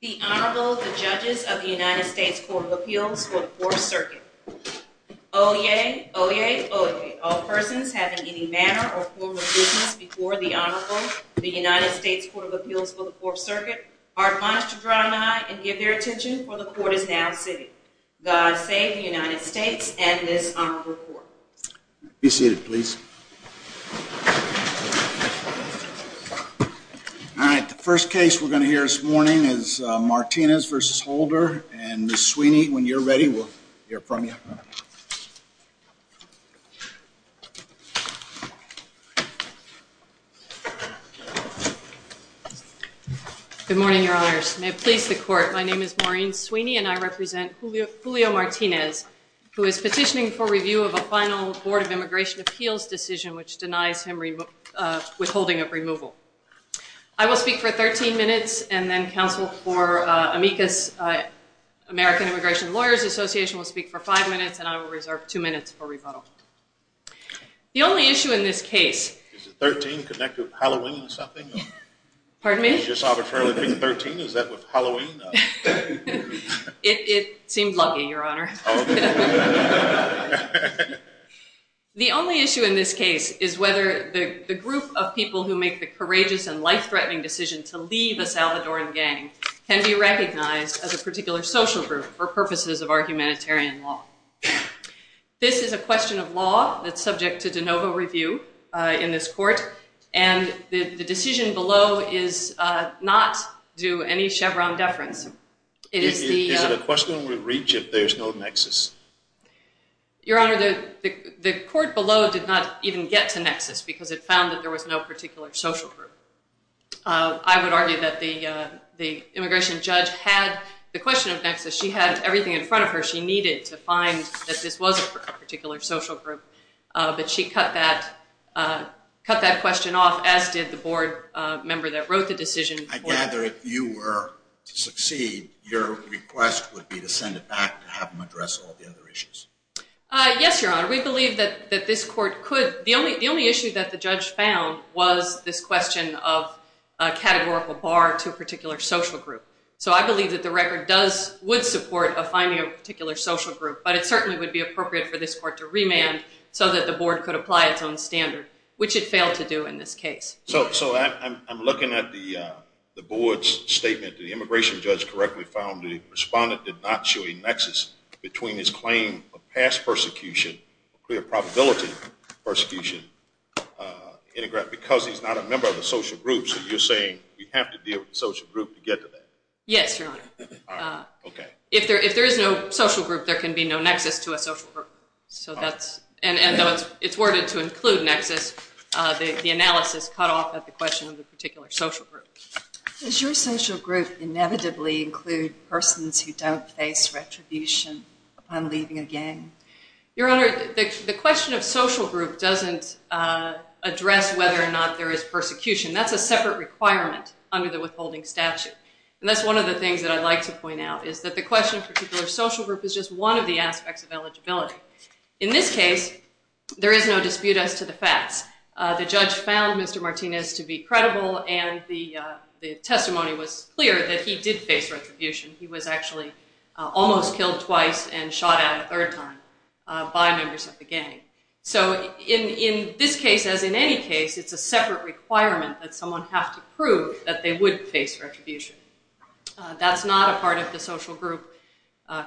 The Honorable, the Judges of the United States Court of Appeals for the Fourth Circuit. Oyez, oyez, oyez, all persons having any manner or form of business before the Honorable, the United States Court of Appeals for the Fourth Circuit, are admonished to draw nigh and give their attention, for the Court is now sitting. God save the United States and this Honorable Court. Be seated, please. All right, the first case we're going to hear this morning is Martinez v. Holder. And Ms. Sweeney, when you're ready, we'll hear from you. Good morning, Your Honors. May it please the Court, my name is Maureen Sweeney and I represent Julio Martinez, who is petitioning for review of a final Board of Immigration Appeals decision which denies him withholding of removal. I will speak for 13 minutes and then counsel for Amicus American Immigration Lawyers Association will speak for five minutes and I will reserve two minutes for rebuttal. The only issue in this case... Is the 13 connected with Halloween or something? Pardon me? You just arbitrarily picked 13, is that with Halloween? It seemed lucky, Your Honor. The only issue in this case is whether the group of people who make the courageous and life-threatening decision to leave a Salvadoran gang can be recognized as a particular social group for purposes of our humanitarian law. This is a question of law that's subject to de novo review in this court and the decision below is not due any Chevron deference. Is it a question of reach if there's no nexus? Your Honor, the court below did not even get to nexus because it found that there was no particular social group. I would argue that the immigration judge had the question of nexus. She had everything in front of her she needed to find that this was a particular social group. But she cut that question off as did the board member that wrote the decision. I gather if you were to succeed, your request would be to send it back to have them address all the other issues. Yes, Your Honor. We believe that this court could. The only issue that the judge found was this question of a categorical bar to a particular social group. So I believe that the record would support finding a particular social group. But it certainly would be appropriate for this court to remand so that the board could apply its own standard, which it failed to do in this case. So I'm looking at the board's statement. The immigration judge correctly found the respondent did not show a nexus between his claim of past persecution, a clear probability of persecution, because he's not a member of the social group. So you're saying we have to deal with the social group to get to that? Yes, Your Honor. All right. Okay. If there is no social group, there can be no nexus to a social group. And though it's worded to include nexus, the analysis cut off at the question of the particular social group. Does your social group inevitably include persons who don't face retribution upon leaving a gang? Your Honor, the question of social group doesn't address whether or not there is persecution. That's a separate requirement under the withholding statute. And that's one of the things that I'd like to point out, is that the question of particular social group is just one of the aspects of eligibility. In this case, there is no dispute as to the facts. The judge found Mr. Martinez to be credible, and the testimony was clear that he did face retribution. He was actually almost killed twice and shot at a third time by members of the gang. So in this case, as in any case, it's a separate requirement that someone have to prove that they would face retribution. That's not a part of the social group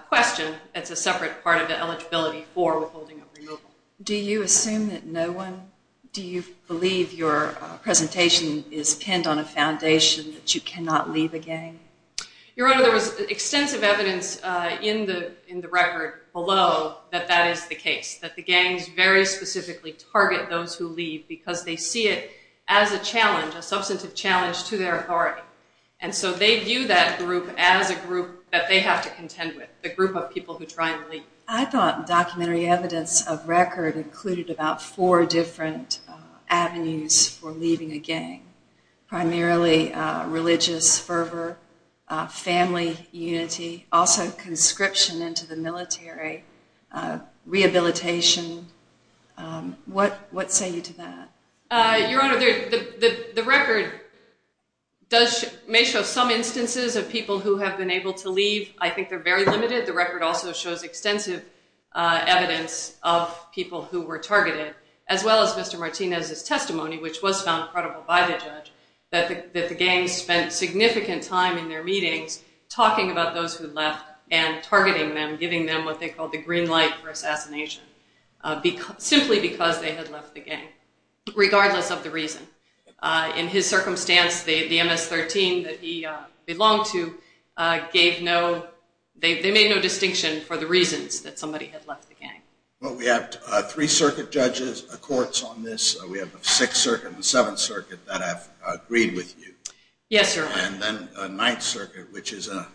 question. It's a separate part of the eligibility for withholding or removal. Do you assume that no one, do you believe your presentation is pinned on a foundation that you cannot leave a gang? Your Honor, there was extensive evidence in the record below that that is the case, that the gangs very specifically target those who leave because they see it as a challenge, a substantive challenge to their authority. And so they view that group as a group that they have to contend with, the group of people who try and leave. I thought documentary evidence of record included about four different avenues for leaving a gang, primarily religious fervor, family unity, also conscription into the military, rehabilitation. What say you to that? Your Honor, the record may show some instances of people who have been able to leave. I think they're very limited. The record also shows extensive evidence of people who were targeted, as well as Mr. Martinez's testimony, which was found credible by the judge, that the gangs spent significant time in their meetings talking about those who left and targeting them, giving them what they called the green light for assassination, simply because they had left the gang, regardless of the reason. In his circumstance, the MS-13 that he belonged to gave no, they made no distinction for the reasons that somebody had left the gang. Well, we have three circuit judges, courts on this. We have the Sixth Circuit and the Seventh Circuit that have agreed with you. Yes, Your Honor. And then the Ninth Circuit, which is a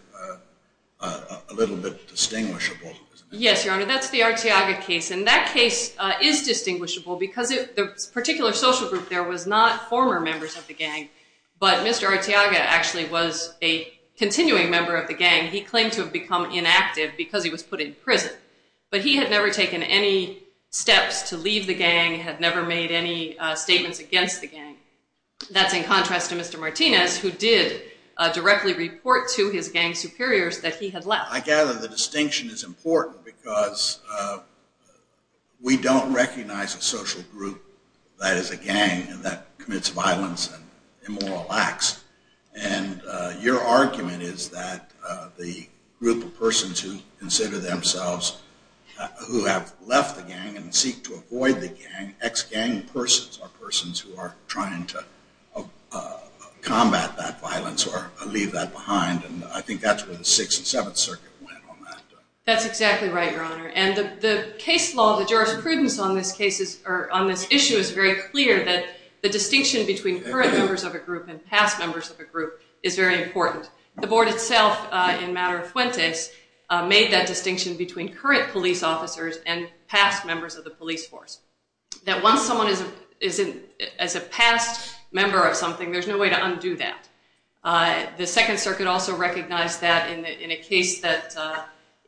little bit distinguishable. Yes, Your Honor, that's the Arteaga case. And that case is distinguishable because the particular social group there was not former members of the gang, but Mr. Arteaga actually was a continuing member of the gang. He claimed to have become inactive because he was put in prison. But he had never taken any steps to leave the gang, had never made any statements against the gang. That's in contrast to Mr. Martinez, who did directly report to his gang superiors that he had left. I gather the distinction is important because we don't recognize a social group that is a gang and that commits violence and immoral acts. And your argument is that the group of persons who consider themselves, who have left the gang and seek to avoid the gang, ex-gang persons are persons who are trying to combat that violence or leave that behind. And I think that's where the Sixth and Seventh Circuit went on that. And the case law, the jurisprudence on this issue is very clear that the distinction between current members of a group and past members of a group is very important. The Board itself, in matter of Fuentes, made that distinction between current police officers and past members of the police force. That once someone is a past member of something, there's no way to undo that. The Second Circuit also recognized that in a case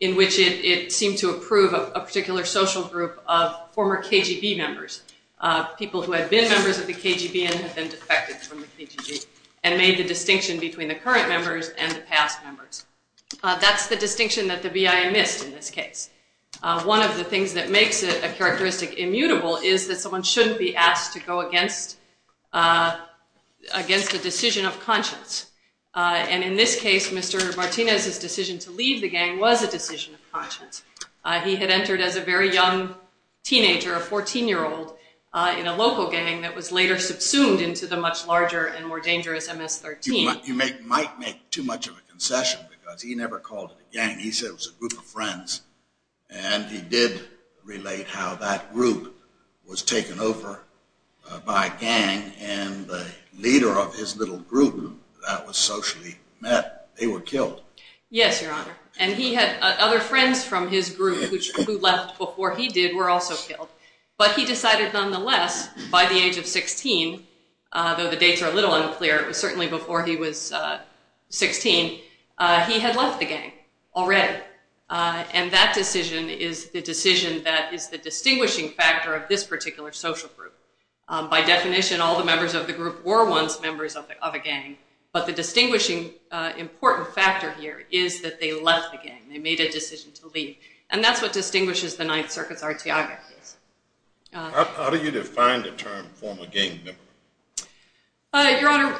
in which it seemed to approve a particular social group of former KGB members, people who had been members of the KGB and had been defected from the KGB, and made the distinction between the current members and the past members. That's the distinction that the BIA missed in this case. One of the things that makes it a characteristic immutable is that someone shouldn't be asked to go against a decision of conscience. And in this case, Mr. Martinez's decision to leave the gang was a decision of conscience. He had entered as a very young teenager, a 14-year-old, in a local gang that was later subsumed into the much larger and more dangerous MS-13. You might make too much of a concession because he never called it a gang. He said it was a group of friends. And he did relate how that group was taken over by a gang, and the leader of his little group that was socially met, they were killed. Yes, Your Honor. And he had other friends from his group who left before he did were also killed. But he decided nonetheless, by the age of 16, though the dates are a little unclear, it was certainly before he was 16, he had left the gang already. And that decision is the decision that is the distinguishing factor of this particular social group. By definition, all the members of the group were once members of a gang. But the distinguishing important factor here is that they left the gang. They made a decision to leave. And that's what distinguishes the Ninth Circuit's artiography. How do you define the term former gang member? Your Honor,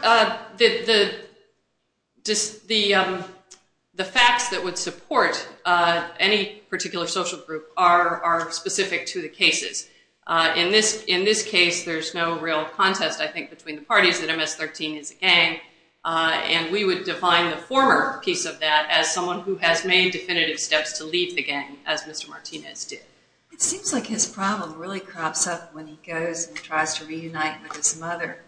the facts that would support any particular social group are specific to the cases. In this case, there's no real contest, I think, between the parties that MS-13 is a gang. And we would define the former piece of that as someone who has made definitive steps to leave the gang, as Mr. Martinez did. It seems like his problem really crops up when he goes and tries to reunite with his mother.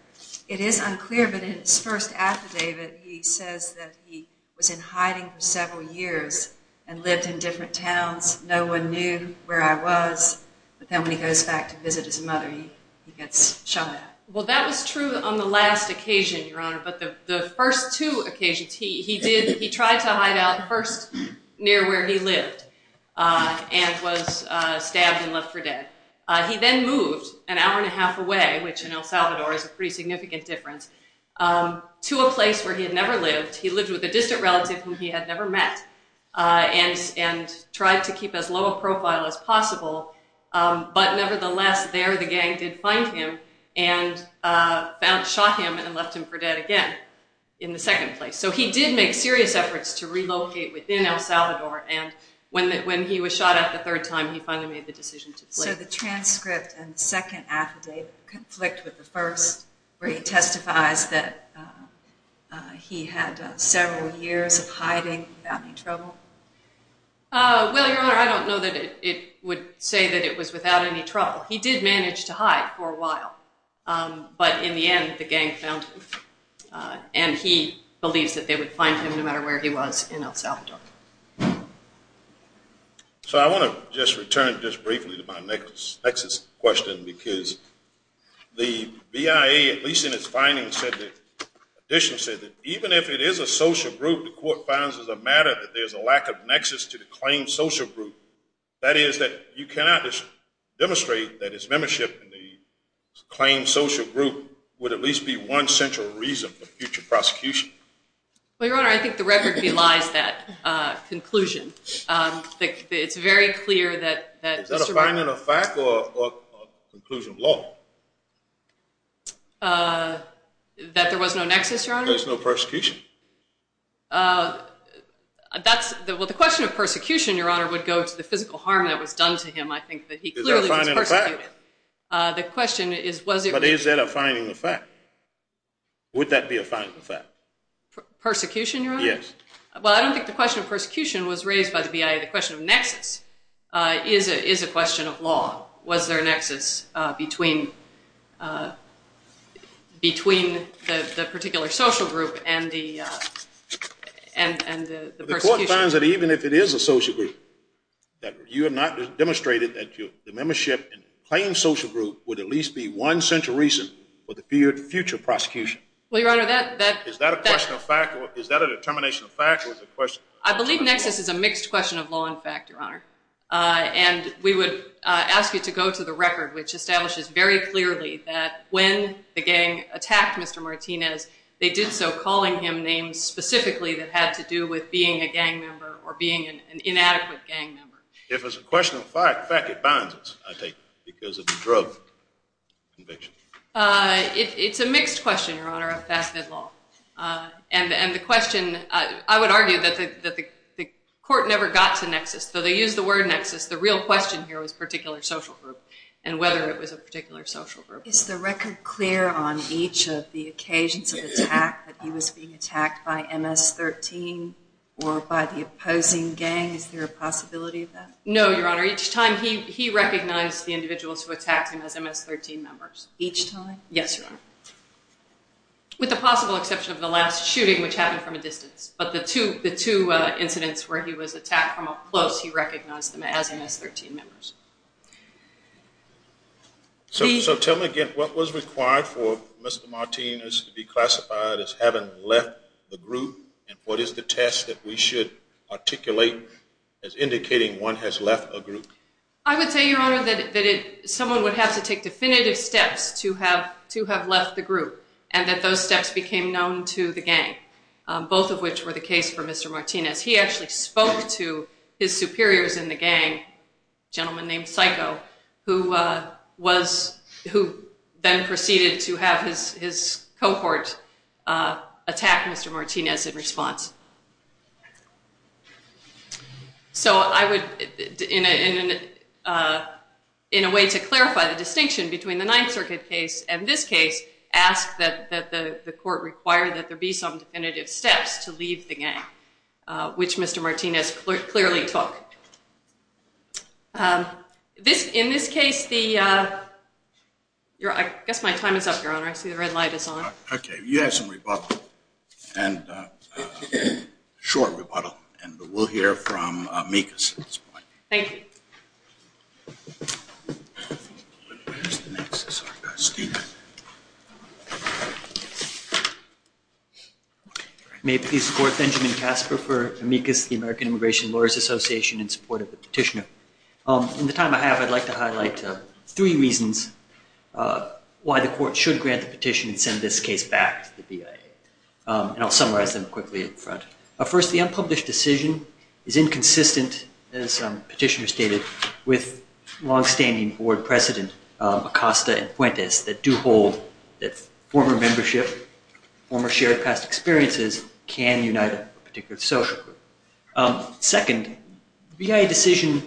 It is unclear, but in his first affidavit, he says that he was in hiding for several years and lived in different towns. No one knew where I was. But then when he goes back to visit his mother, he gets shot at. Well, that was true on the last occasion, Your Honor. But the first two occasions, he tried to hide out first near where he lived and was stabbed and left for dead. He then moved an hour and a half away, which in El Salvador is a pretty significant difference, to a place where he had never lived. He lived with a distant relative whom he had never met and tried to keep as low a profile as possible. But nevertheless, there the gang did find him and shot him and left him for dead again in the second place. So he did make serious efforts to relocate within El Salvador. And when he was shot at the third time, he finally made the decision to flee. So the transcript and the second affidavit conflict with the first, where he testifies that he had several years of hiding without any trouble? Well, Your Honor, I don't know that it would say that it was without any trouble. He did manage to hide for a while. But in the end, the gang found him. And he believes that they would find him no matter where he was in El Salvador. So I want to just return just briefly to my next question because the BIA, at least in its findings, said that, even if it is a social group, the court founds as a matter that there's a lack of nexus to the claimed social group. That is that you cannot demonstrate that his membership in the claimed social group would at least be one central reason for future prosecution. Well, Your Honor, I think the record belies that conclusion. It's very clear that Mr. Brown— Is that a finding of fact or a conclusion of law? That there was no nexus, Your Honor? There's no persecution. Well, the question of persecution, Your Honor, would go to the physical harm that was done to him. I think that he clearly was persecuted. Is that a finding of fact? But is that a finding of fact? Would that be a finding of fact? Persecution, Your Honor? Yes. Well, I don't think the question of persecution was raised by the BIA. The question of nexus is a question of law. Was there a nexus between the particular social group and the persecution? The court finds that even if it is a social group, that you have not demonstrated that the membership in the claimed social group would at least be one central reason for the future prosecution. Well, Your Honor, that— Is that a question of fact? Is that a determination of fact? I believe nexus is a mixed question of law and fact, Your Honor. And we would ask you to go to the record, which establishes very clearly that when the gang attacked Mr. Martinez, they did so calling him names specifically that had to do with being a gang member or being an inadequate gang member. If it's a question of fact, fact, it binds us, I take it, because of the drug conviction. It's a mixed question, Your Honor, of fact and law. And the question—I would argue that the court never got to nexus, though they used the word nexus. The real question here was particular social group and whether it was a particular social group. Is the record clear on each of the occasions of attack that he was being attacked by MS-13 or by the opposing gang? Is there a possibility of that? No, Your Honor. Each time, he recognized the individuals who attacked him as MS-13 members. Each time? Yes, Your Honor. With the possible exception of the last shooting, which happened from a distance. But the two incidents where he was attacked from up close, he recognized them as MS-13 members. So tell me again, what was required for Mr. Martinez to be classified as having left the group? And what is the test that we should articulate as indicating one has left a group? I would say, Your Honor, that someone would have to take definitive steps to have left the group and that those steps became known to the gang, both of which were the case for Mr. Martinez. He actually spoke to his superiors in the gang, a gentleman named Psycho, who then proceeded to have his cohort attack Mr. Martinez in response. So I would, in a way to clarify the distinction between the Ninth Circuit case and this case, ask that the court require that there be some definitive steps to leave the gang, which Mr. Martinez clearly took. In this case, I guess my time is up, Your Honor. I see the red light is on. Okay. You had some rebuttal. And a short rebuttal, and we'll hear from Amicus at this point. Thank you. May it please the Court, Benjamin Casper for Amicus, the American Immigration Lawyers Association, in support of the petitioner. In the time I have, I'd like to highlight three reasons why the court should grant the petition and send this case back to the BIA, and I'll summarize them quickly up front. First, the unpublished decision is inconsistent, as the petitioner stated, with longstanding board precedent, Acosta and Fuentes, that do hold that former membership, former shared past experiences can unite a particular social group. Second, the BIA decision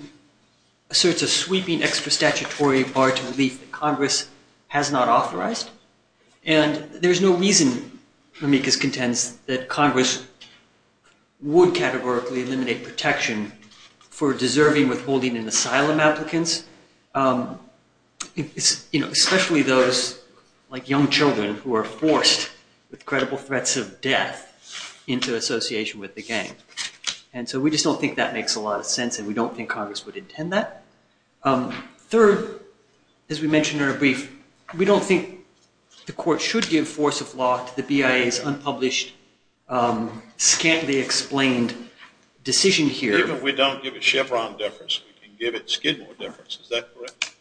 asserts a sweeping extra statutory bar to relief that Congress has not authorized, and there's no reason, Amicus contends, that Congress would categorically eliminate protection for deserving, withholding, and asylum applicants, especially those like young children who are forced with credible threats of death into association with the gang. And so we just don't think that makes a lot of sense, and we don't think Congress would intend that. Third, as we mentioned in our brief, we don't think the court should give force of law to the BIA's unpublished, scantily explained decision here. Even if we don't give it Chevron deference, we can give it Skidmore deference, is that correct?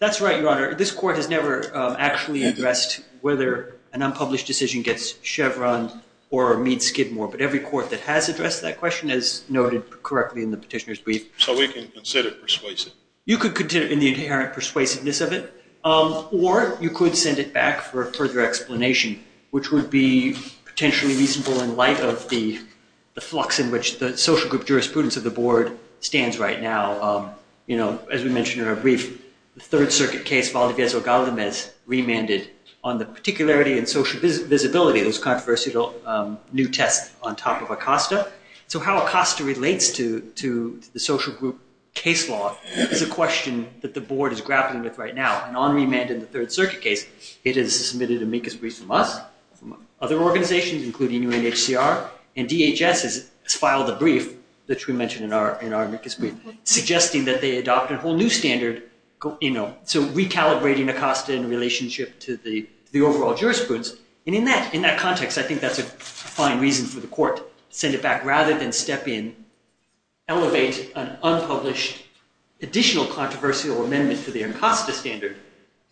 That's right, Your Honor. This court has never actually addressed whether an unpublished decision gets Chevron or meets Skidmore, but every court that has addressed that question has noted correctly in the petitioner's brief. So we can consider persuasive. You could consider it in the inherent persuasiveness of it, or you could send it back for further explanation, which would be potentially reasonable in light of the flux in which the social group jurisprudence of the board stands right now. You know, as we mentioned in our brief, the Third Circuit case Valdivieso-Galdamez remanded on the particularity and social visibility of this controversial new test on top of Acosta. So how Acosta relates to the social group case law is a question that the board is grappling with right now. And on remand in the Third Circuit case, it has submitted amicus briefs from us, from other organizations, including UNHCR. And DHS has filed a brief, which we mentioned in our amicus brief, suggesting that they adopt a whole new standard, you know, so recalibrating Acosta in relationship to the overall jurisprudence. And in that context, I think that's a fine reason for the court to send it back rather than step in, elevate an unpublished additional controversial amendment to the Acosta standard.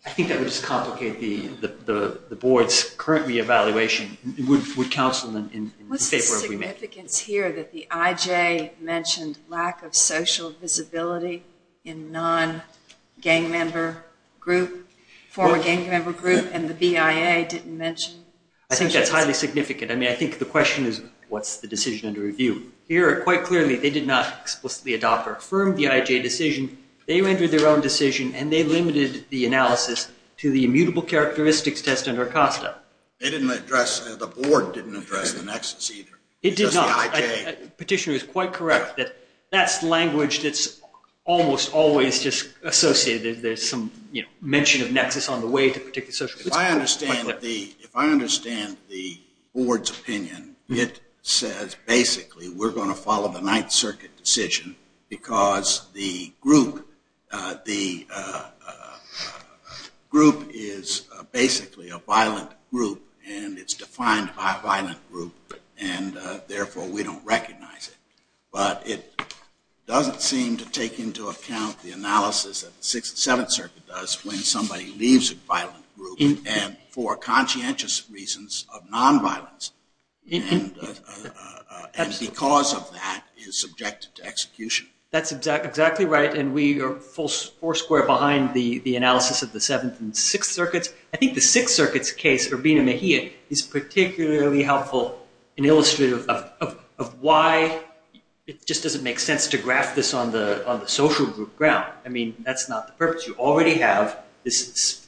I think that would just complicate the board's current reevaluation. It would counsel them in favor of remand. What's the significance here that the IJ mentioned lack of social visibility in non-gang member group, former gang member group, and the BIA didn't mention? I think that's highly significant. I mean, I think the question is, what's the decision under review? Here, quite clearly, they did not explicitly adopt or affirm the IJ decision. They rendered their own decision, and they limited the analysis to the immutable characteristics test under Acosta. They didn't address, the board didn't address the nexus either. It did not. It's just the IJ. Petitioner is quite correct that that's language that's almost always just associated. There's some mention of nexus on the way to particular social groups. If I understand the board's opinion, it says basically we're going to follow the Ninth Circuit decision because the group is basically a violent group, and it's defined by a violent group, and therefore we don't recognize it. But it doesn't seem to take into account the analysis that the Sixth and Seventh Circuit does when somebody leaves a violent group, and for conscientious reasons of nonviolence, and because of that is subjected to execution. That's exactly right, and we are four square behind the analysis of the Seventh and Sixth Circuits. I think the Sixth Circuit's case, Urbina-Mejia, is particularly helpful in illustrating of why it just doesn't make sense to graph this on the social group ground. I mean, that's not the purpose. You already have this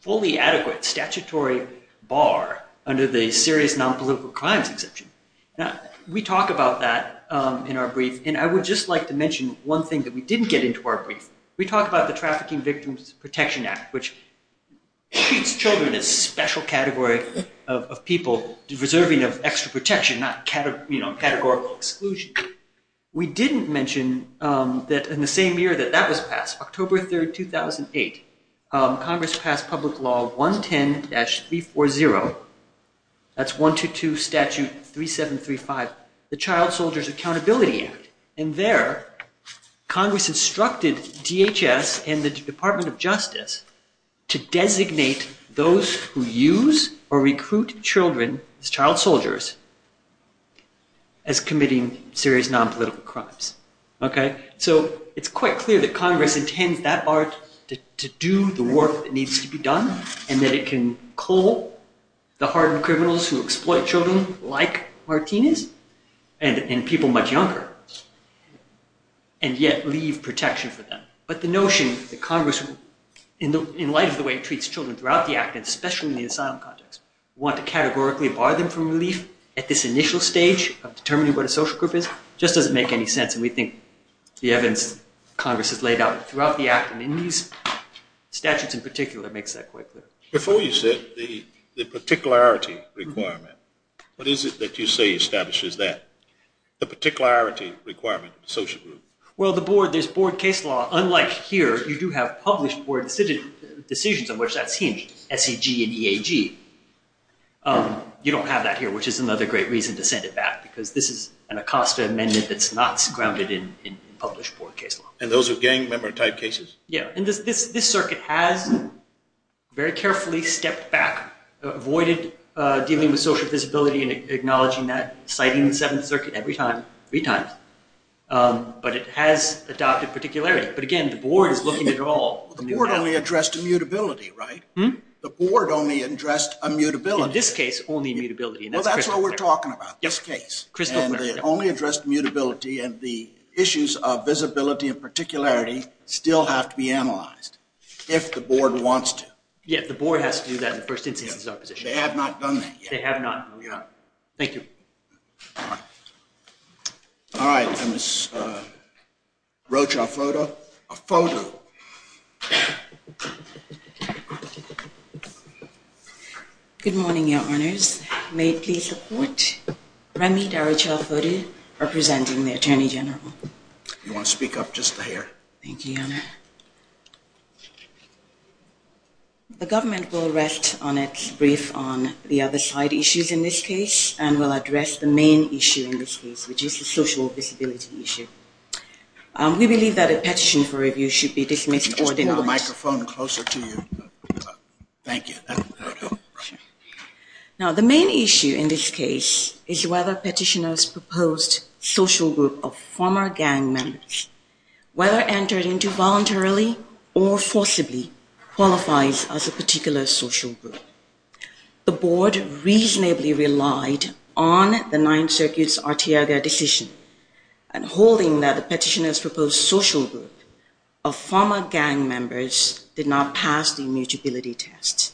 fully adequate statutory bar under the serious nonpolitical crimes exemption. We talk about that in our brief, and I would just like to mention one thing that we didn't get into our brief. We talked about the Trafficking Victims Protection Act, which treats children as a special category of people deserving of extra protection, not categorical exclusion. We didn't mention that in the same year that that was passed, October 3, 2008, Congress passed Public Law 110-340, that's 122 Statute 3735, the Child Soldiers Accountability Act, and there Congress instructed DHS and the Department of Justice to designate those who use or recruit children as child soldiers as committing serious nonpolitical crimes. So it's quite clear that Congress intends that bar to do the work that needs to be done and that it can cull the hardened criminals who exploit children like Martinez and people much younger and yet leave protection for them. But the notion that Congress, in light of the way it treats children throughout the act, and especially in the asylum context, want to categorically bar them from relief at this initial stage of determining what a social group is just doesn't make any sense, and we think the evidence Congress has laid out throughout the act and in these statutes in particular makes that quite clear. Before you said the particularity requirement, what is it that you say establishes that, the particularity requirement of the social group? Well, the board, there's board case law, unlike here, you do have published board decisions on which that's hinged, SEG and EAG. You don't have that here, which is another great reason to send it back, because this is an ACOSTA amendment that's not grounded in published board case law. And those are gang member type cases? Yeah. And this circuit has very carefully stepped back, avoided dealing with social visibility and acknowledging that, citing the Seventh Circuit every time, three times. But it has adopted particularity. But again, the board is looking at it all. The board only addressed immutability, right? The board only addressed immutability. In this case, only immutability. Well, that's what we're talking about, this case. And they only addressed immutability, and the issues of visibility and particularity still have to be analyzed, if the board wants to. Yeah, the board has to do that in the first instance of opposition. They have not done that yet. They have not. Yeah. Thank you. All right. I wrote you a photo. A photo. Good morning, Your Honors. May it please the Court. Remy D'Arichel Foti, representing the Attorney General. Do you want to speak up just a hair? Thank you, Your Honor. The government will rest on its brief on the other side issues in this case, and will address the main issue in this case, which is the social visibility issue. We believe that a petition for review should be dismissed or denied. Can you just pull the microphone closer to you? Thank you. Now, the main issue in this case is whether petitioners' proposed social group of former gang members, whether entered into voluntarily or forcibly, qualifies as a particular social group. The board reasonably relied on the Ninth Circuit's Arteaga decision, and holding that the petitioners' proposed social group of former gang members did not pass the immutability test.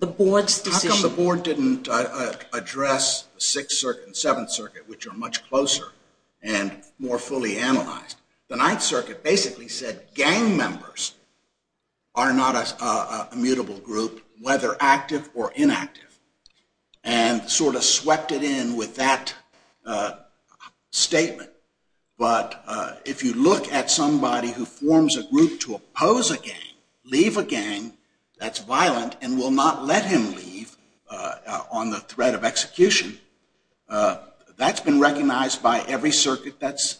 How come the board didn't address the Sixth Circuit and Seventh Circuit, which are much closer and more fully analyzed? The Ninth Circuit basically said gang members are not a mutable group, whether active or inactive, and sort of swept it in with that statement. But if you look at somebody who forms a group to oppose a gang, leave a gang, that's violent and will not let him leave on the threat of execution, that's been recognized by every circuit that's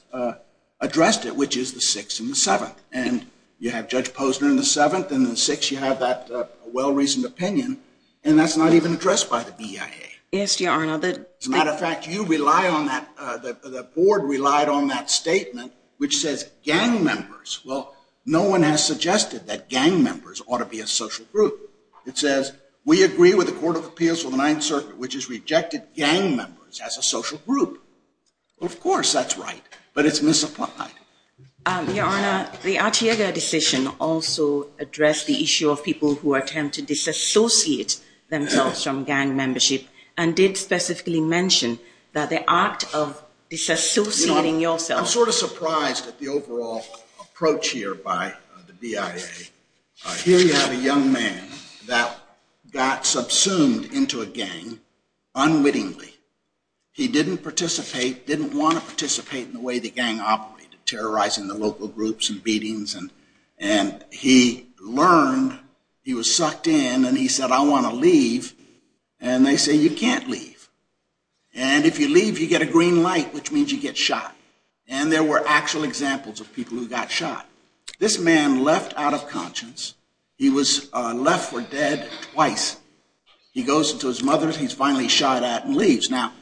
addressed it, which is the Sixth and the Seventh. And you have Judge Posner in the Seventh, and in the Sixth you have that well-reasoned opinion, and that's not even addressed by the BIA. As a matter of fact, the board relied on that statement, which says gang members. Well, no one has suggested that gang members ought to be a social group. It says, we agree with the Court of Appeals for the Ninth Circuit, which has rejected gang members as a social group. Of course that's right, but it's misapplied. Your Honor, the Arteaga decision also addressed the issue of people who attempt to disassociate themselves from gang membership, and did specifically mention the act of disassociating yourself. I'm sort of surprised at the overall approach here by the BIA. Here you have a young man that got subsumed into a gang unwittingly. He didn't participate, didn't want to participate in the way the gang operated, terrorizing the local groups and beatings, and he learned, he was sucked in, and he said, I want to leave. And they say, you can't leave. And if you leave, you get a green light, which means you get shot. And there were actual examples of people who got shot. This man left out of conscience. He was left for dead twice. He goes to his mother, he's finally shot at, and leaves. Now,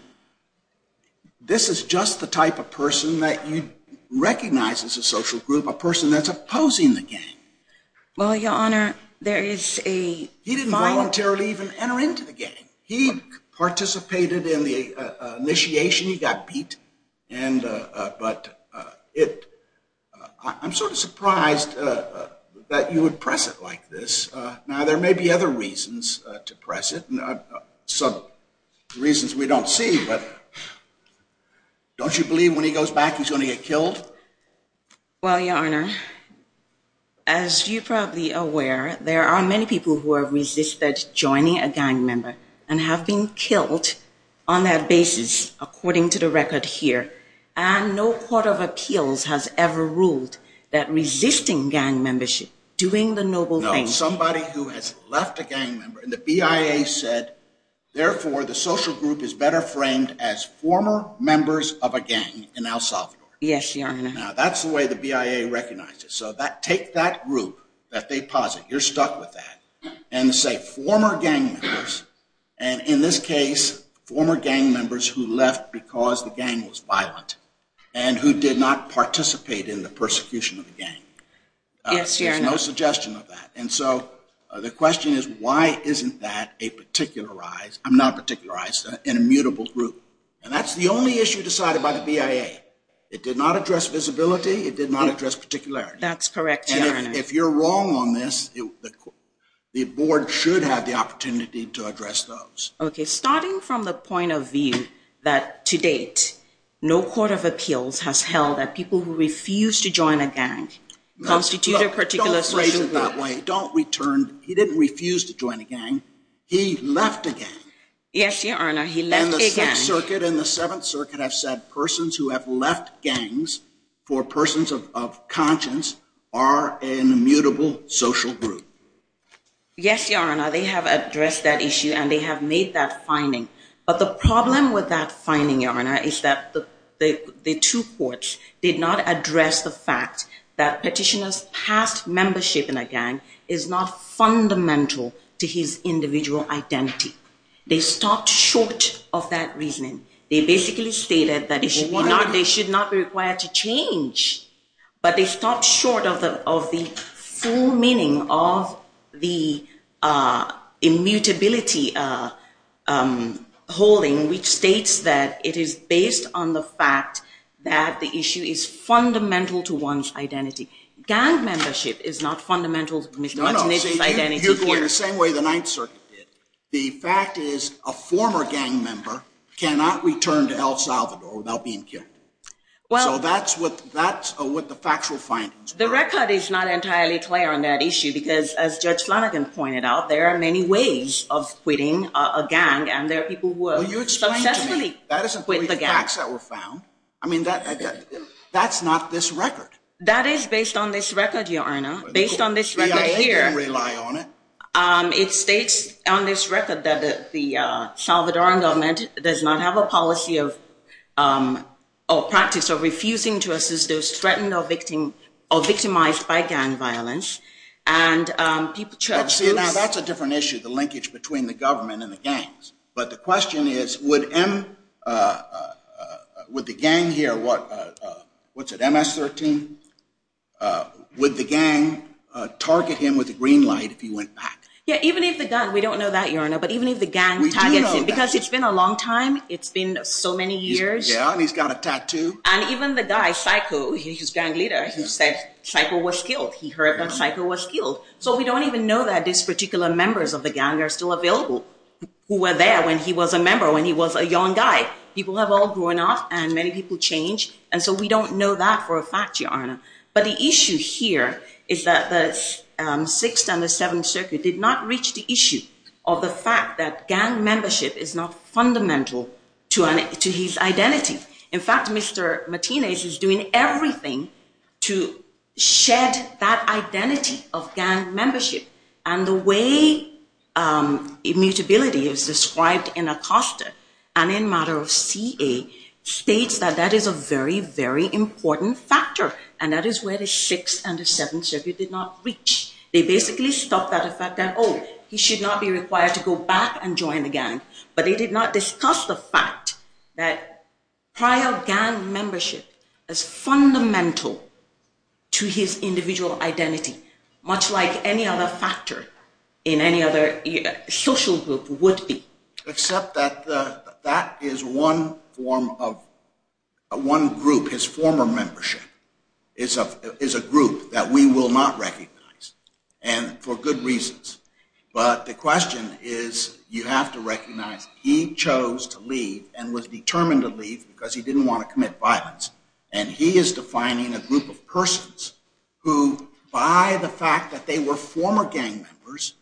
this is just the type of person that you recognize as a social group, a person that's opposing the gang. Well, Your Honor, there is a model. He didn't voluntarily even enter into the gang. He participated in the initiation. He got beat. But I'm sort of surprised that you would press it like this. Now, there may be other reasons to press it, some reasons we don't see, Well, Your Honor, as you're probably aware, there are many people who have resisted joining a gang member and have been killed on that basis, according to the record here. And no court of appeals has ever ruled that resisting gang membership, doing the noble thing. No, somebody who has left a gang member. And the BIA said, therefore, the social group is better framed as former members of a gang in El Salvador. Yes, Your Honor. Now, that's the way the BIA recognized it. So take that group that they posit, you're stuck with that, and say former gang members, and in this case, former gang members who left because the gang was violent and who did not participate in the persecution of the gang. Yes, Your Honor. There's no suggestion of that. And so the question is, why isn't that a particularized, not a particularized, an immutable group? And that's the only issue decided by the BIA. It did not address visibility. It did not address particularity. That's correct, Your Honor. And if you're wrong on this, the board should have the opportunity to address those. Okay. Starting from the point of view that, to date, no court of appeals has held that people who refuse to join a gang constitute a particular social group. Don't phrase it that way. Don't return. He left a gang. Yes, Your Honor. He left a gang. The Fifth Circuit and the Seventh Circuit have said persons who have left gangs for persons of conscience are an immutable social group. Yes, Your Honor. They have addressed that issue and they have made that finding. But the problem with that finding, Your Honor, is that the two courts did not address the fact that petitioner's past membership in a gang is not fundamental to his individual identity. They stopped short of that reasoning. They basically stated that they should not be required to change. But they stopped short of the full meaning of the immutability holding, which states that it is based on the fact that the issue is fundamental to one's identity. Gang membership is not fundamental to one's identity. No, no. You're going the same way the Ninth Circuit did. The fact is a former gang member cannot return to El Salvador without being killed. So that's what the factual findings were. The record is not entirely clear on that issue because, as Judge Flanagan pointed out, there are many ways of quitting a gang and there are people who have successfully quit the gang. I mean, that's not this record. That is based on this record, Your Honor, based on this record here. You can rely on it. It states on this record that the Salvadoran government does not have a policy or practice of refusing to assist those threatened or victimized by gang violence. See, now that's a different issue, the linkage between the government and the gangs. But the question is, would the gang here, what's it, MS-13? Would the gang target him with a green light if he went back? Yeah, even if the gang, we don't know that, Your Honor, but even if the gang targets him, because it's been a long time, it's been so many years. Yeah, and he's got a tattoo. And even the guy, Saico, his gang leader, he said Saico was killed. He heard that Saico was killed. So we don't even know that these particular members of the gang are still available who were there when he was a member, when he was a young guy. People have all grown up and many people change. And so we don't know that for a fact, Your Honor. But the issue here is that the 6th and the 7th Circuit did not reach the issue of the fact that gang membership is not fundamental to his identity. In fact, Mr. Martinez is doing everything to shed that identity of gang membership. And the way immutability is described in Acosta and in matter of CA states that that is a very, very important factor. And that is where the 6th and the 7th Circuit did not reach. They basically stopped at the fact that, oh, he should not be required to go back and join the gang. But they did not discuss the fact that prior gang membership is fundamental to his individual identity, much like any other factor in any other social group would be. Except that that is one form of one group, his former membership is a group that we will not recognize, and for good reasons. But the question is you have to recognize he chose to leave and was determined to leave because he didn't want to commit violence. And he is defining a group of persons who, by the fact that they were former gang members,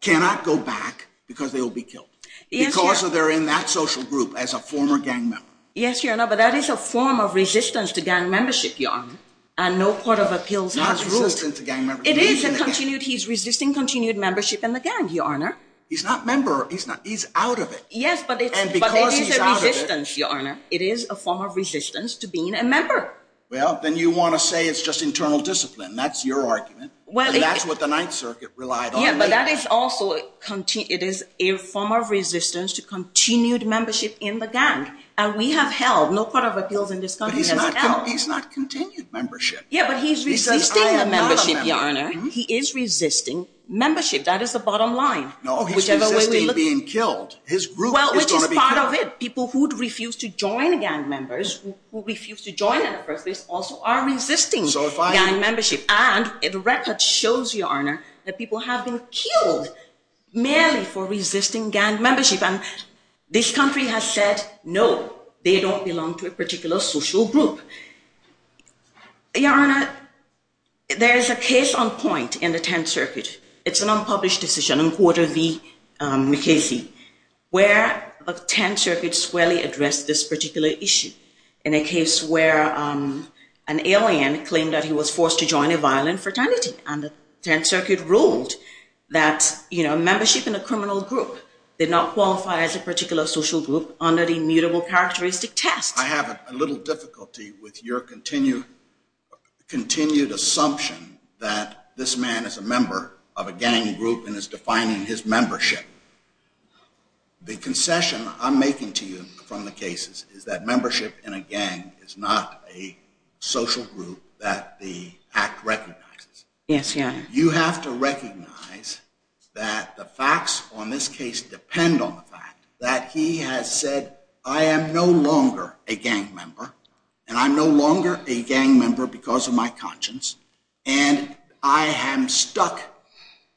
cannot go back because they will be killed. Because they're in that social group as a former gang member. Yes, Your Honor. But that is a form of resistance to gang membership, Your Honor. And no court of appeals has ruled. He is resisting continued membership in the gang, Your Honor. He's not member. He's not. Yes, but it is a form of resistance to being a member. Well, then you want to say it's just internal discipline. That's your argument. And that's what the Ninth Circuit relied on. Yeah, but that is also a form of resistance to continued membership in the gang. And we have held, no court of appeals in this country has held. But he's not continued membership. Yeah, but he's resisting the membership, Your Honor. He is resisting membership. That is the bottom line. No, he's resisting being killed. His group is going to be killed. Well, which is part of it. People who refuse to join gang members, who refuse to join in the first place, also are resisting gang membership. And the record shows, Your Honor, that people have been killed merely for resisting gang membership. And this country has said, no, they don't belong to a particular social group. Your Honor, there is a case on point in the Tenth Circuit. It's an unpublished decision in Quarter v. McKasey, where the Tenth Circuit squarely addressed this particular issue. In a case where an alien claimed that he was forced to join a violent fraternity. And the Tenth Circuit ruled that membership in a criminal group did not qualify as a particular social group under the mutable characteristic test. I have a little difficulty with your continued assumption that this man is a member of a gang group and is defining his membership. The concession I'm making to you from the cases is that membership in a gang is not a social group that the act recognizes. Yes, Your Honor. You have to recognize that the facts on this case depend on the fact that he has said, I am no longer a gang member. And I'm no longer a gang member because of my conscience. And I am stuck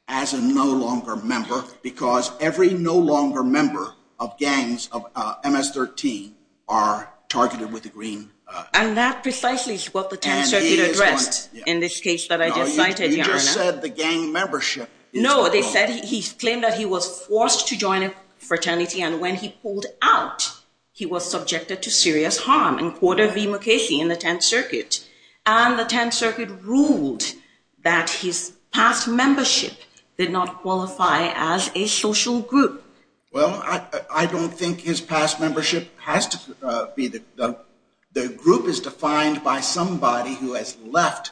as a no longer member because every no longer member of gangs of MS-13 are targeted with the green. And that precisely is what the Tenth Circuit addressed in this case that I just cited, Your Honor. They just said the gang membership is criminal. No, they said he claimed that he was forced to join a fraternity and when he pulled out, he was subjected to serious harm. And quoted V. Mukasey in the Tenth Circuit. And the Tenth Circuit ruled that his past membership did not qualify as a social group. Well, I don't think his past membership has to be. The group is defined by somebody who has left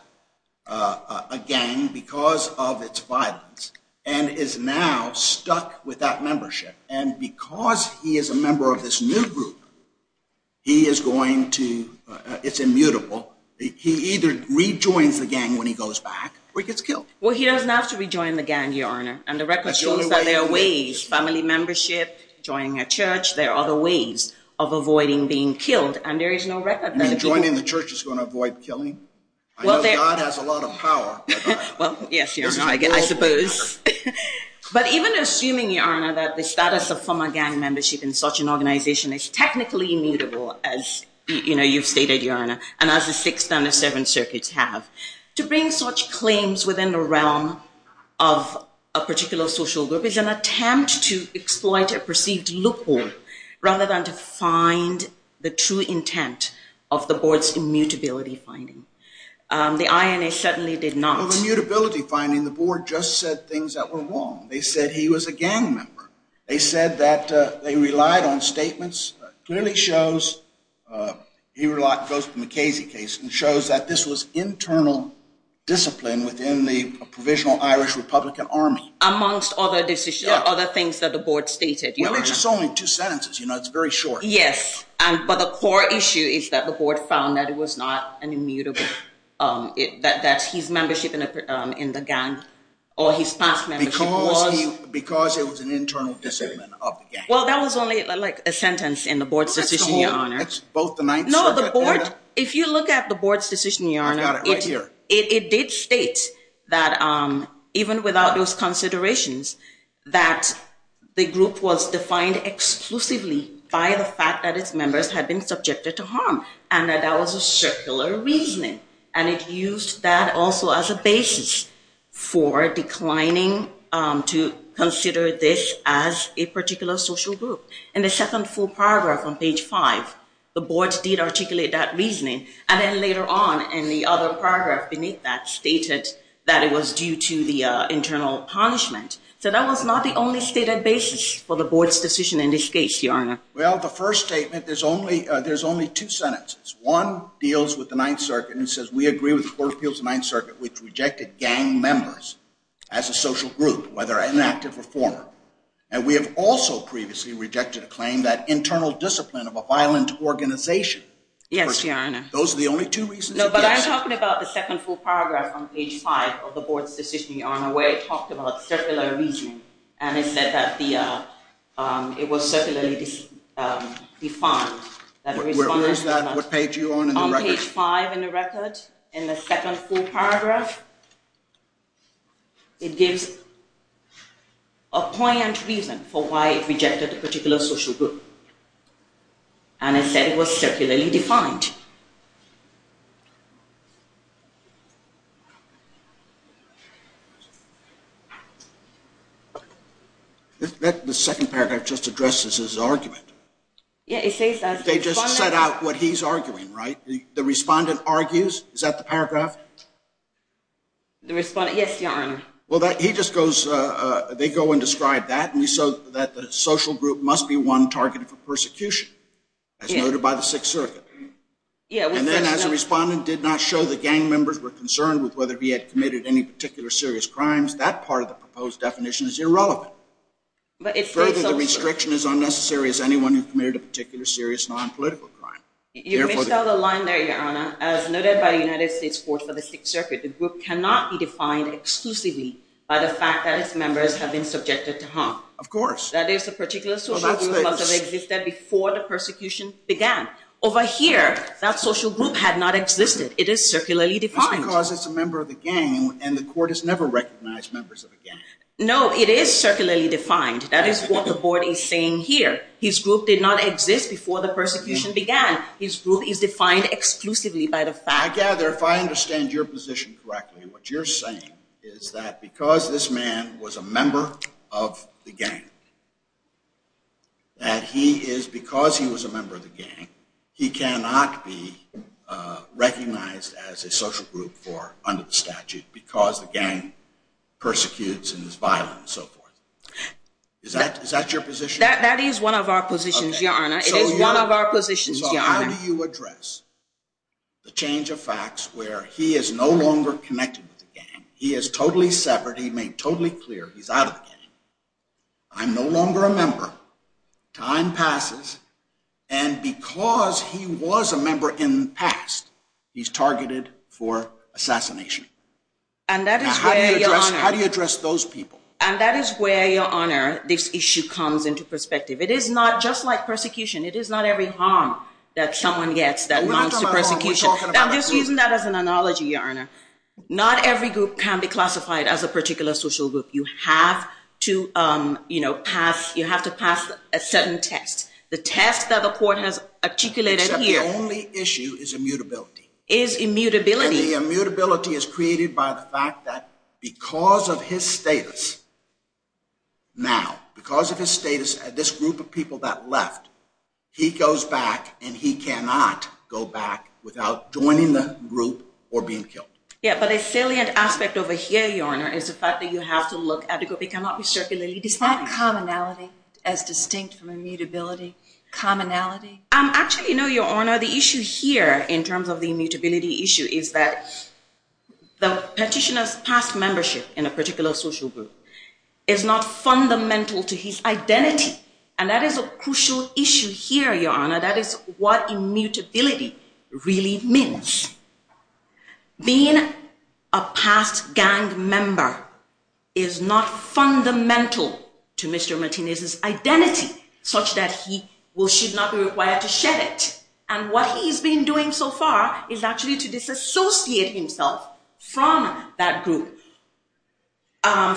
a gang because of its violence and is now stuck with that membership. And because he is a member of this new group, he is going to, it's immutable. He either rejoins the gang when he goes back or he gets killed. Well, he doesn't have to rejoin the gang, Your Honor. And the record shows that there are ways, family membership, joining a church. There are other ways of avoiding being killed. And there is no record that people. You mean joining the church is going to avoid killing? I know God has a lot of power. Well, yes, Your Honor, I suppose. But even assuming, Your Honor, that the status of former gang membership in such an organization is technically immutable as, you know, you've stated, Your Honor. And as the Sixth and the Seventh Circuits have. To bring such claims within the realm of a particular social group is an attempt to exploit a perceived loophole rather than to find the true intent of the board's immutability finding. The INA certainly did not. Well, the immutability finding, the board just said things that were wrong. They said he was a gang member. They said that they relied on statements. Clearly shows, goes from the Casey case, and shows that this was internal discipline within the provisional Irish Republican Army. Amongst other decisions, other things that the board stated. Well, it's only two sentences. You know, it's very short. Yes. But the core issue is that the board found that it was not an immutable, that his membership in the gang or his past membership was. Because it was an internal discipline of the gang. Well, that was only like a sentence in the board's decision. Your Honor. Both the Ninth Circuit. No, the board. If you look at the board's decision, Your Honor. I've got it right here. It did state that even without those considerations, that the group was defined exclusively by the fact that its members had been subjected to harm. And that that was a circular reasoning. And it used that also as a basis for declining to consider this as a particular social group. In the second full paragraph on page five, the board did articulate that reasoning. And then later on, in the other paragraph beneath that, stated that it was due to the internal punishment. So that was not the only stated basis for the board's decision in this case, Your Honor. Well, the first statement, there's only two sentences. One deals with the Ninth Circuit and says, we agree with the board's appeals to the Ninth Circuit, which rejected gang members as a social group, whether inactive or former. And we have also previously rejected a claim that internal discipline of a violent organization. Yes, Your Honor. Those are the only two reasons? No, but I'm talking about the second full paragraph on page five of the board's decision, Your Honor, where it talked about circular reasoning. And it said that it was circularly defined. Where is that? What page are you on in the record? On page five in the record, in the second full paragraph, it gives a poignant reason for why it rejected a particular social group. And it said it was circularly defined. The second paragraph just addresses his argument. Yeah, it says that. They just set out what he's arguing, right? The respondent argues? Is that the paragraph? The respondent, yes, Your Honor. Well, he just goes, they go and describe that. And we saw that the social group must be one targeted for persecution, as noted by the Sixth Circuit. And then as the respondent did not show the gang members were concerned with whether he had committed any particular serious crimes, that part of the proposed definition is irrelevant. Further, the restriction is unnecessary as anyone who committed a particular serious non-political crime. You missed out a line there, Your Honor. As noted by the United States Court for the Sixth Circuit, the group cannot be defined exclusively by the fact that its members have been subjected to harm. Of course. That is, a particular social group must have existed before the persecution began. Over here, that social group had not existed. It is circularly defined. That's because it's a member of the gang, and the court has never recognized members of a gang. No, it is circularly defined. That is what the board is saying here. His group did not exist before the persecution began. His group is defined exclusively by the fact. I gather, if I understand your position correctly, what you're saying is that because this man was a member of the gang, that he is, because he was a member of the gang, he cannot be recognized as a social group under the statute because the gang persecutes and is violent and so forth. Is that your position? That is one of our positions, Your Honor. It is one of our positions, Your Honor. So how do you address the change of facts where he is no longer connected with the gang, he is totally severed, he's made totally clear he's out of the gang, I'm no longer a member, time passes, and because he was a member in the past, he's targeted for assassination. How do you address those people? And that is where, Your Honor, this issue comes into perspective. It is not just like persecution. It is not every harm that someone gets that amounts to persecution. I'm just using that as an analogy, Your Honor. Not every group can be classified as a particular social group. You have to pass a certain test. The test that the court has articulated here… Except the only issue is immutability. Is immutability. And the immutability is created by the fact that because of his status now, because of his status, this group of people that left, he goes back and he cannot go back without joining the group or being killed. Yeah, but a salient aspect over here, Your Honor, is the fact that you have to look at the group. It cannot be circulated. Is that commonality as distinct from immutability? Commonality? Actually, no, Your Honor. The issue here, in terms of the immutability issue, is that the petitioner's past membership in a particular social group is not fundamental to his identity. And that is a crucial issue here, Your Honor. That is what immutability really means. Being a past gang member is not fundamental to Mr. Martinez's identity, such that he should not be required to shed it. And what he's been doing so far is actually to disassociate himself from that group.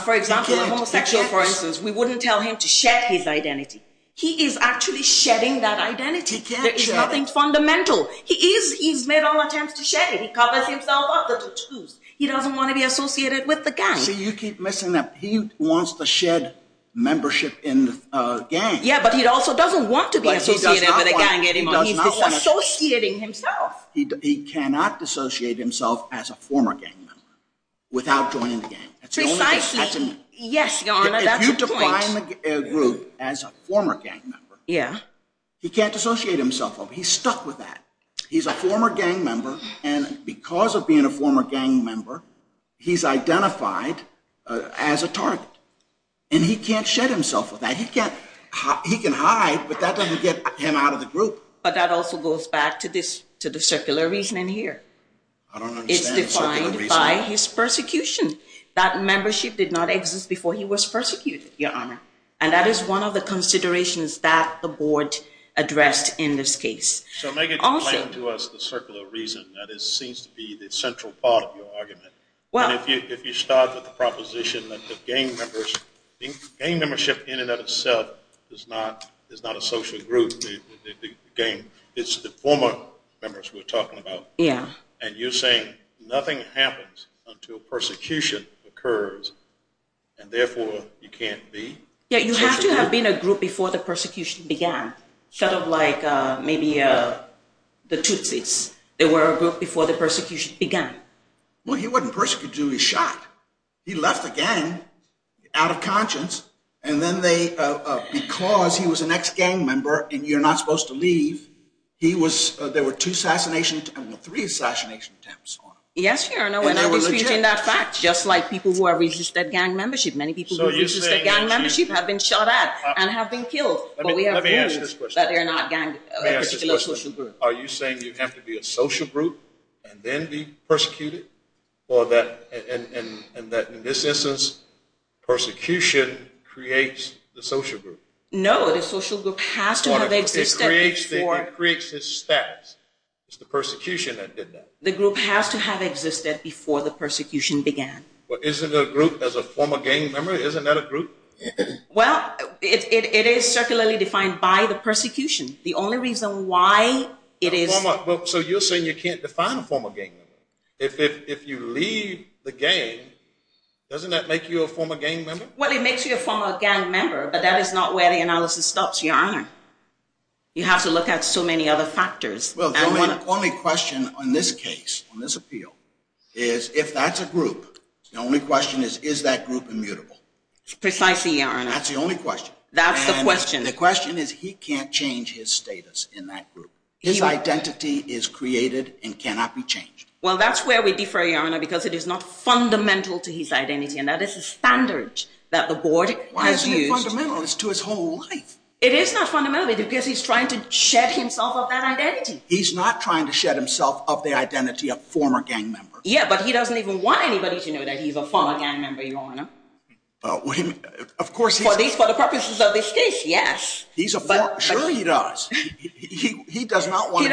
For example, a homosexual, for instance, we wouldn't tell him to shed his identity. He is actually shedding that identity. There is nothing fundamental. He's made all attempts to shed it. He covers himself up. He doesn't want to be associated with the gang. See, you keep missing that. He wants to shed membership in the gang. Yeah, but he also doesn't want to be associated with the gang anymore. He's disassociating himself. He cannot disassociate himself as a former gang member without joining the gang. Precisely. Yes, Your Honor, that's the point. He can't join the group as a former gang member. He can't dissociate himself. He's stuck with that. He's a former gang member, and because of being a former gang member, he's identified as a target. And he can't shed himself with that. He can hide, but that doesn't get him out of the group. But that also goes back to the circular reasoning here. I don't understand the circular reasoning. That membership did not exist before he was persecuted, Your Honor. And that is one of the considerations that the board addressed in this case. So make it plain to us the circular reason. That seems to be the central part of your argument. If you start with the proposition that the gang membership in and of itself is not a social group, it's the former members we're talking about, and you're saying nothing happens until persecution occurs, and therefore you can't be? Yeah, you have to have been a group before the persecution began, sort of like maybe the Tootsies. They were a group before the persecution began. Well, he wasn't persecuted until he was shot. He left the gang out of conscience, and then because he was an ex-gang member and you're not supposed to leave, there were three assassination attempts on him. Yes, Your Honor, when I was reading that fact, just like people who have resisted gang membership. Many people who resisted gang membership have been shot at and have been killed. Let me ask this question. Are you saying you have to be a social group and then be persecuted? And that in this instance, persecution creates the social group? No, the social group has to have existed before. It creates the status. It's the persecution that did that. The group has to have existed before the persecution began. Well, isn't a group, as a former gang member, isn't that a group? Well, it is circularly defined by the persecution. The only reason why it is... So you're saying you can't define a former gang member. If you leave the gang, doesn't that make you a former gang member? Well, it makes you a former gang member, but that is not where the analysis stops, Your Honor. You have to look at so many other factors. Well, the only question on this case, on this appeal, is if that's a group, the only question is, is that group immutable? Precisely, Your Honor. That's the only question. That's the question. And the question is, he can't change his status in that group. His identity is created and cannot be changed. Well, that's where we differ, Your Honor, because it is not fundamental to his identity, and that is the standard that the board has used. Why isn't it fundamental? It's to his whole life. It is not fundamental, because he's trying to shed himself of that identity. He's not trying to shed himself of the identity of former gang member. Yeah, but he doesn't even want anybody to know that he's a former gang member, Your Honor. For the purposes of this case, yes. Sure he does. He doesn't want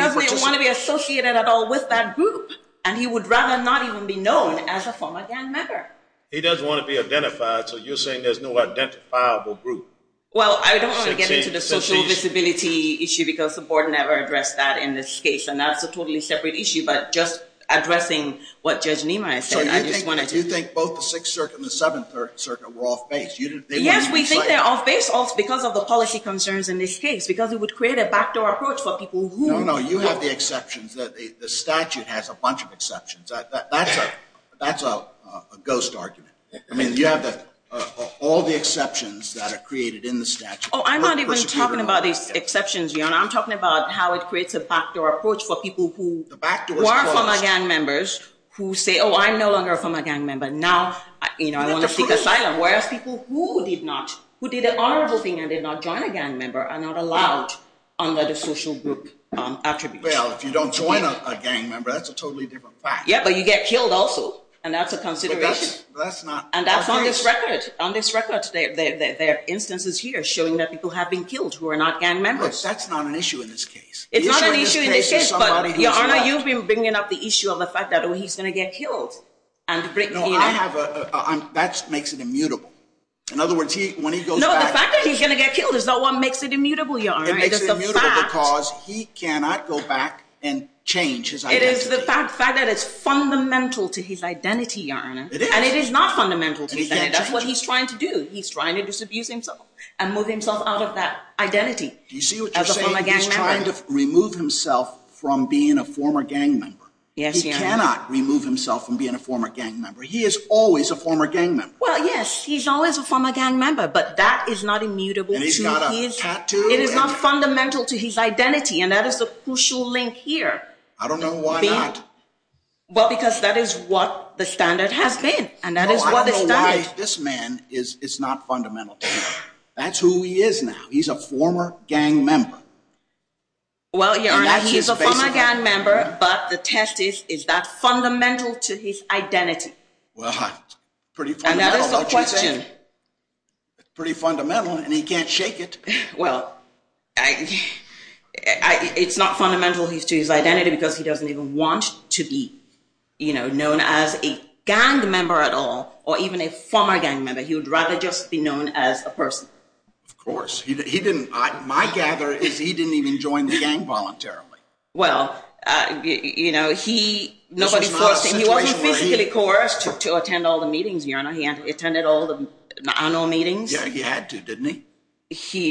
to be associated at all with that group, and he would rather not even be known as a former gang member. He doesn't want to be identified, so you're saying there's no identifiable group. Well, I don't want to get into the social visibility issue, because the board never addressed that in this case, and that's a totally separate issue. But just addressing what Judge Niemeyer said, I just wanted to. You think both the Sixth Circuit and the Seventh Circuit were off-base. Yes, we think they're off-base because of the policy concerns in this case, because it would create a backdoor approach for people who. No, no, you have the exceptions. The statute has a bunch of exceptions. That's a ghost argument. I mean, you have all the exceptions that are created in the statute. Oh, I'm not even talking about these exceptions, Your Honor. I'm talking about how it creates a backdoor approach for people who are former gang members who say, oh, I'm no longer a former gang member, now I want to seek asylum, whereas people who did an honorable thing and did not join a gang member are not allowed under the social group attribute. Well, if you don't join a gang member, that's a totally different fact. Yeah, but you get killed also, and that's a consideration. And that's on this record. There are instances here showing that people have been killed who are not gang members. That's not an issue in this case. It's not an issue in this case, but, Your Honor, you've been bringing up the issue of the fact that he's going to get killed. That makes it immutable. No, the fact that he's going to get killed is not what makes it immutable, Your Honor. It makes it immutable because he cannot go back and change his identity. It is the fact that it's fundamental to his identity, Your Honor. And it is not fundamental to his identity. That's what he's trying to do. He's trying to disabuse himself and move himself out of that identity. Do you see what you're saying? He's trying to remove himself from being a former gang member. Yes, Your Honor. He cannot remove himself from being a former gang member. He is always a former gang member. Well, yes, he's always a former gang member, but that is not immutable. And he's got a tattoo. It is not fundamental to his identity, and that is the crucial link here. I don't know why not. Well, because that is what the standard has been, and that is what the standard— No, I don't know why this man is not fundamental to him. That's who he is now. He's a former gang member. Well, Your Honor, he's a former gang member, but the test is, is that fundamental to his identity? Well, it's pretty fundamental. And that is the question. It's pretty fundamental, and he can't shake it. Well, it's not fundamental to his identity because he doesn't even want to be known as a gang member at all or even a former gang member. He would rather just be known as a person. Of course. He didn't—my gather is he didn't even join the gang voluntarily. Well, you know, he— This was not a situation where he— He wasn't physically coerced to attend all the meetings, Your Honor. He attended all the annual meetings. Yeah, he had to, didn't he?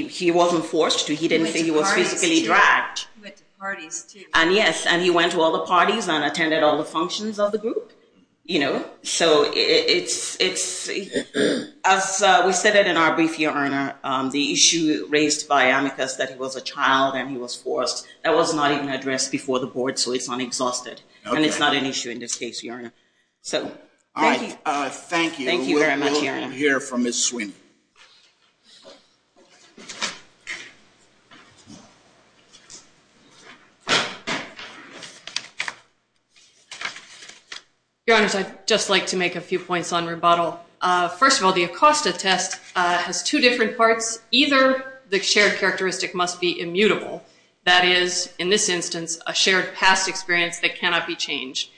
He wasn't forced to. He didn't think he was physically dragged. He went to parties, too. He went to parties, too. And yes, and he went to all the parties and attended all the functions of the group, you know. So it's—as we said in our brief, Your Honor, the issue raised by Amicus that he was a child and he was forced, that was not even addressed before the board, so it's unexhausted. And it's not an issue in this case, Your Honor. So, thank you. Thank you. Thank you very much, Your Honor. We will hear from Ms. Swin. Your Honors, I'd just like to make a few points on rebuttal. First of all, the Acosta test has two different parts. Either the shared characteristic must be immutable, that is, in this instance, a shared past experience that cannot be changed,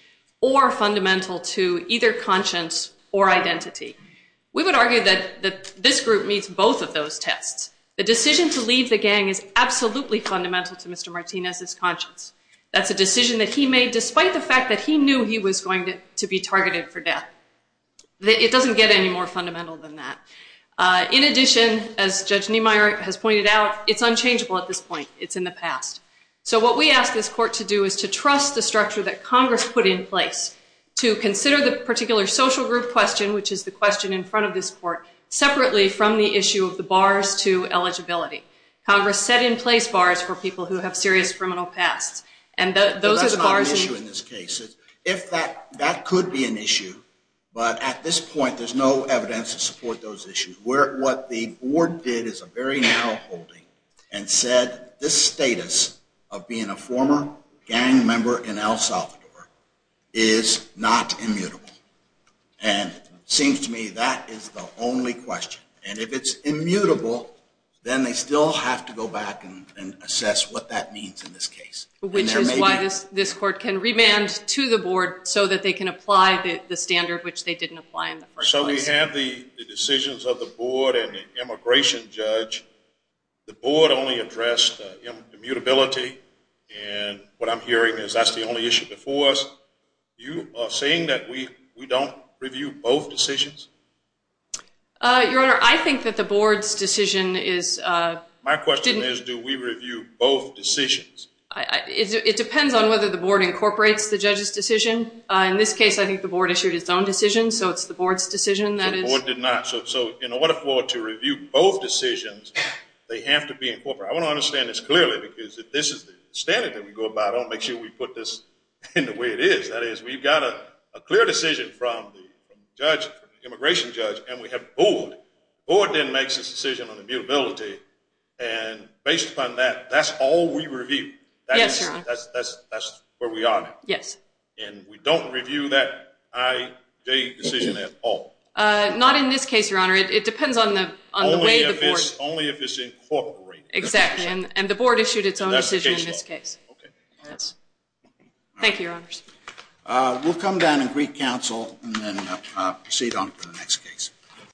or fundamental to either conscience or identity. This group meets both of those tests. The decision to leave the gang is absolutely fundamental to Mr. Martinez's conscience. That's a decision that he made despite the fact that he knew he was going to be targeted for death. It doesn't get any more fundamental than that. In addition, as Judge Niemeyer has pointed out, it's unchangeable at this point. It's in the past. So what we ask this court to do is to trust the structure that Congress put in place, to consider the particular social group question, which is the question in front of this court, separately from the issue of the bars to eligibility. Congress set in place bars for people who have serious criminal pasts, and those are the bars. That's not an issue in this case. That could be an issue, but at this point, there's no evidence to support those issues. What the board did is a very narrow holding and said, this status of being a former gang member in El Salvador is not immutable. And it seems to me that is the only question. And if it's immutable, then they still have to go back and assess what that means in this case. Which is why this court can remand to the board so that they can apply the standard, which they didn't apply in the first place. So we have the decisions of the board and the immigration judge. The board only addressed immutability, and what I'm hearing is that's the only issue before us. You are saying that we don't review both decisions? Your Honor, I think that the board's decision is – My question is, do we review both decisions? In this case, I think the board issued its own decision, so it's the board's decision that is – The board did not. So in order for it to review both decisions, they have to be incorporated. I want to understand this clearly, because if this is the standard that we go by, I want to make sure we put this in the way it is. That is, we've got a clear decision from the judge, the immigration judge, and we have a board. The board then makes its decision on immutability, and based upon that, that's all we review. Yes, Your Honor. That's where we are now. Yes. And we don't review that IJ decision at all? Not in this case, Your Honor. It depends on the way the board – Only if it's incorporated. Exactly, and the board issued its own decision in this case. Okay. Thank you, Your Honors. We'll come down and greet counsel and then proceed on to the next case.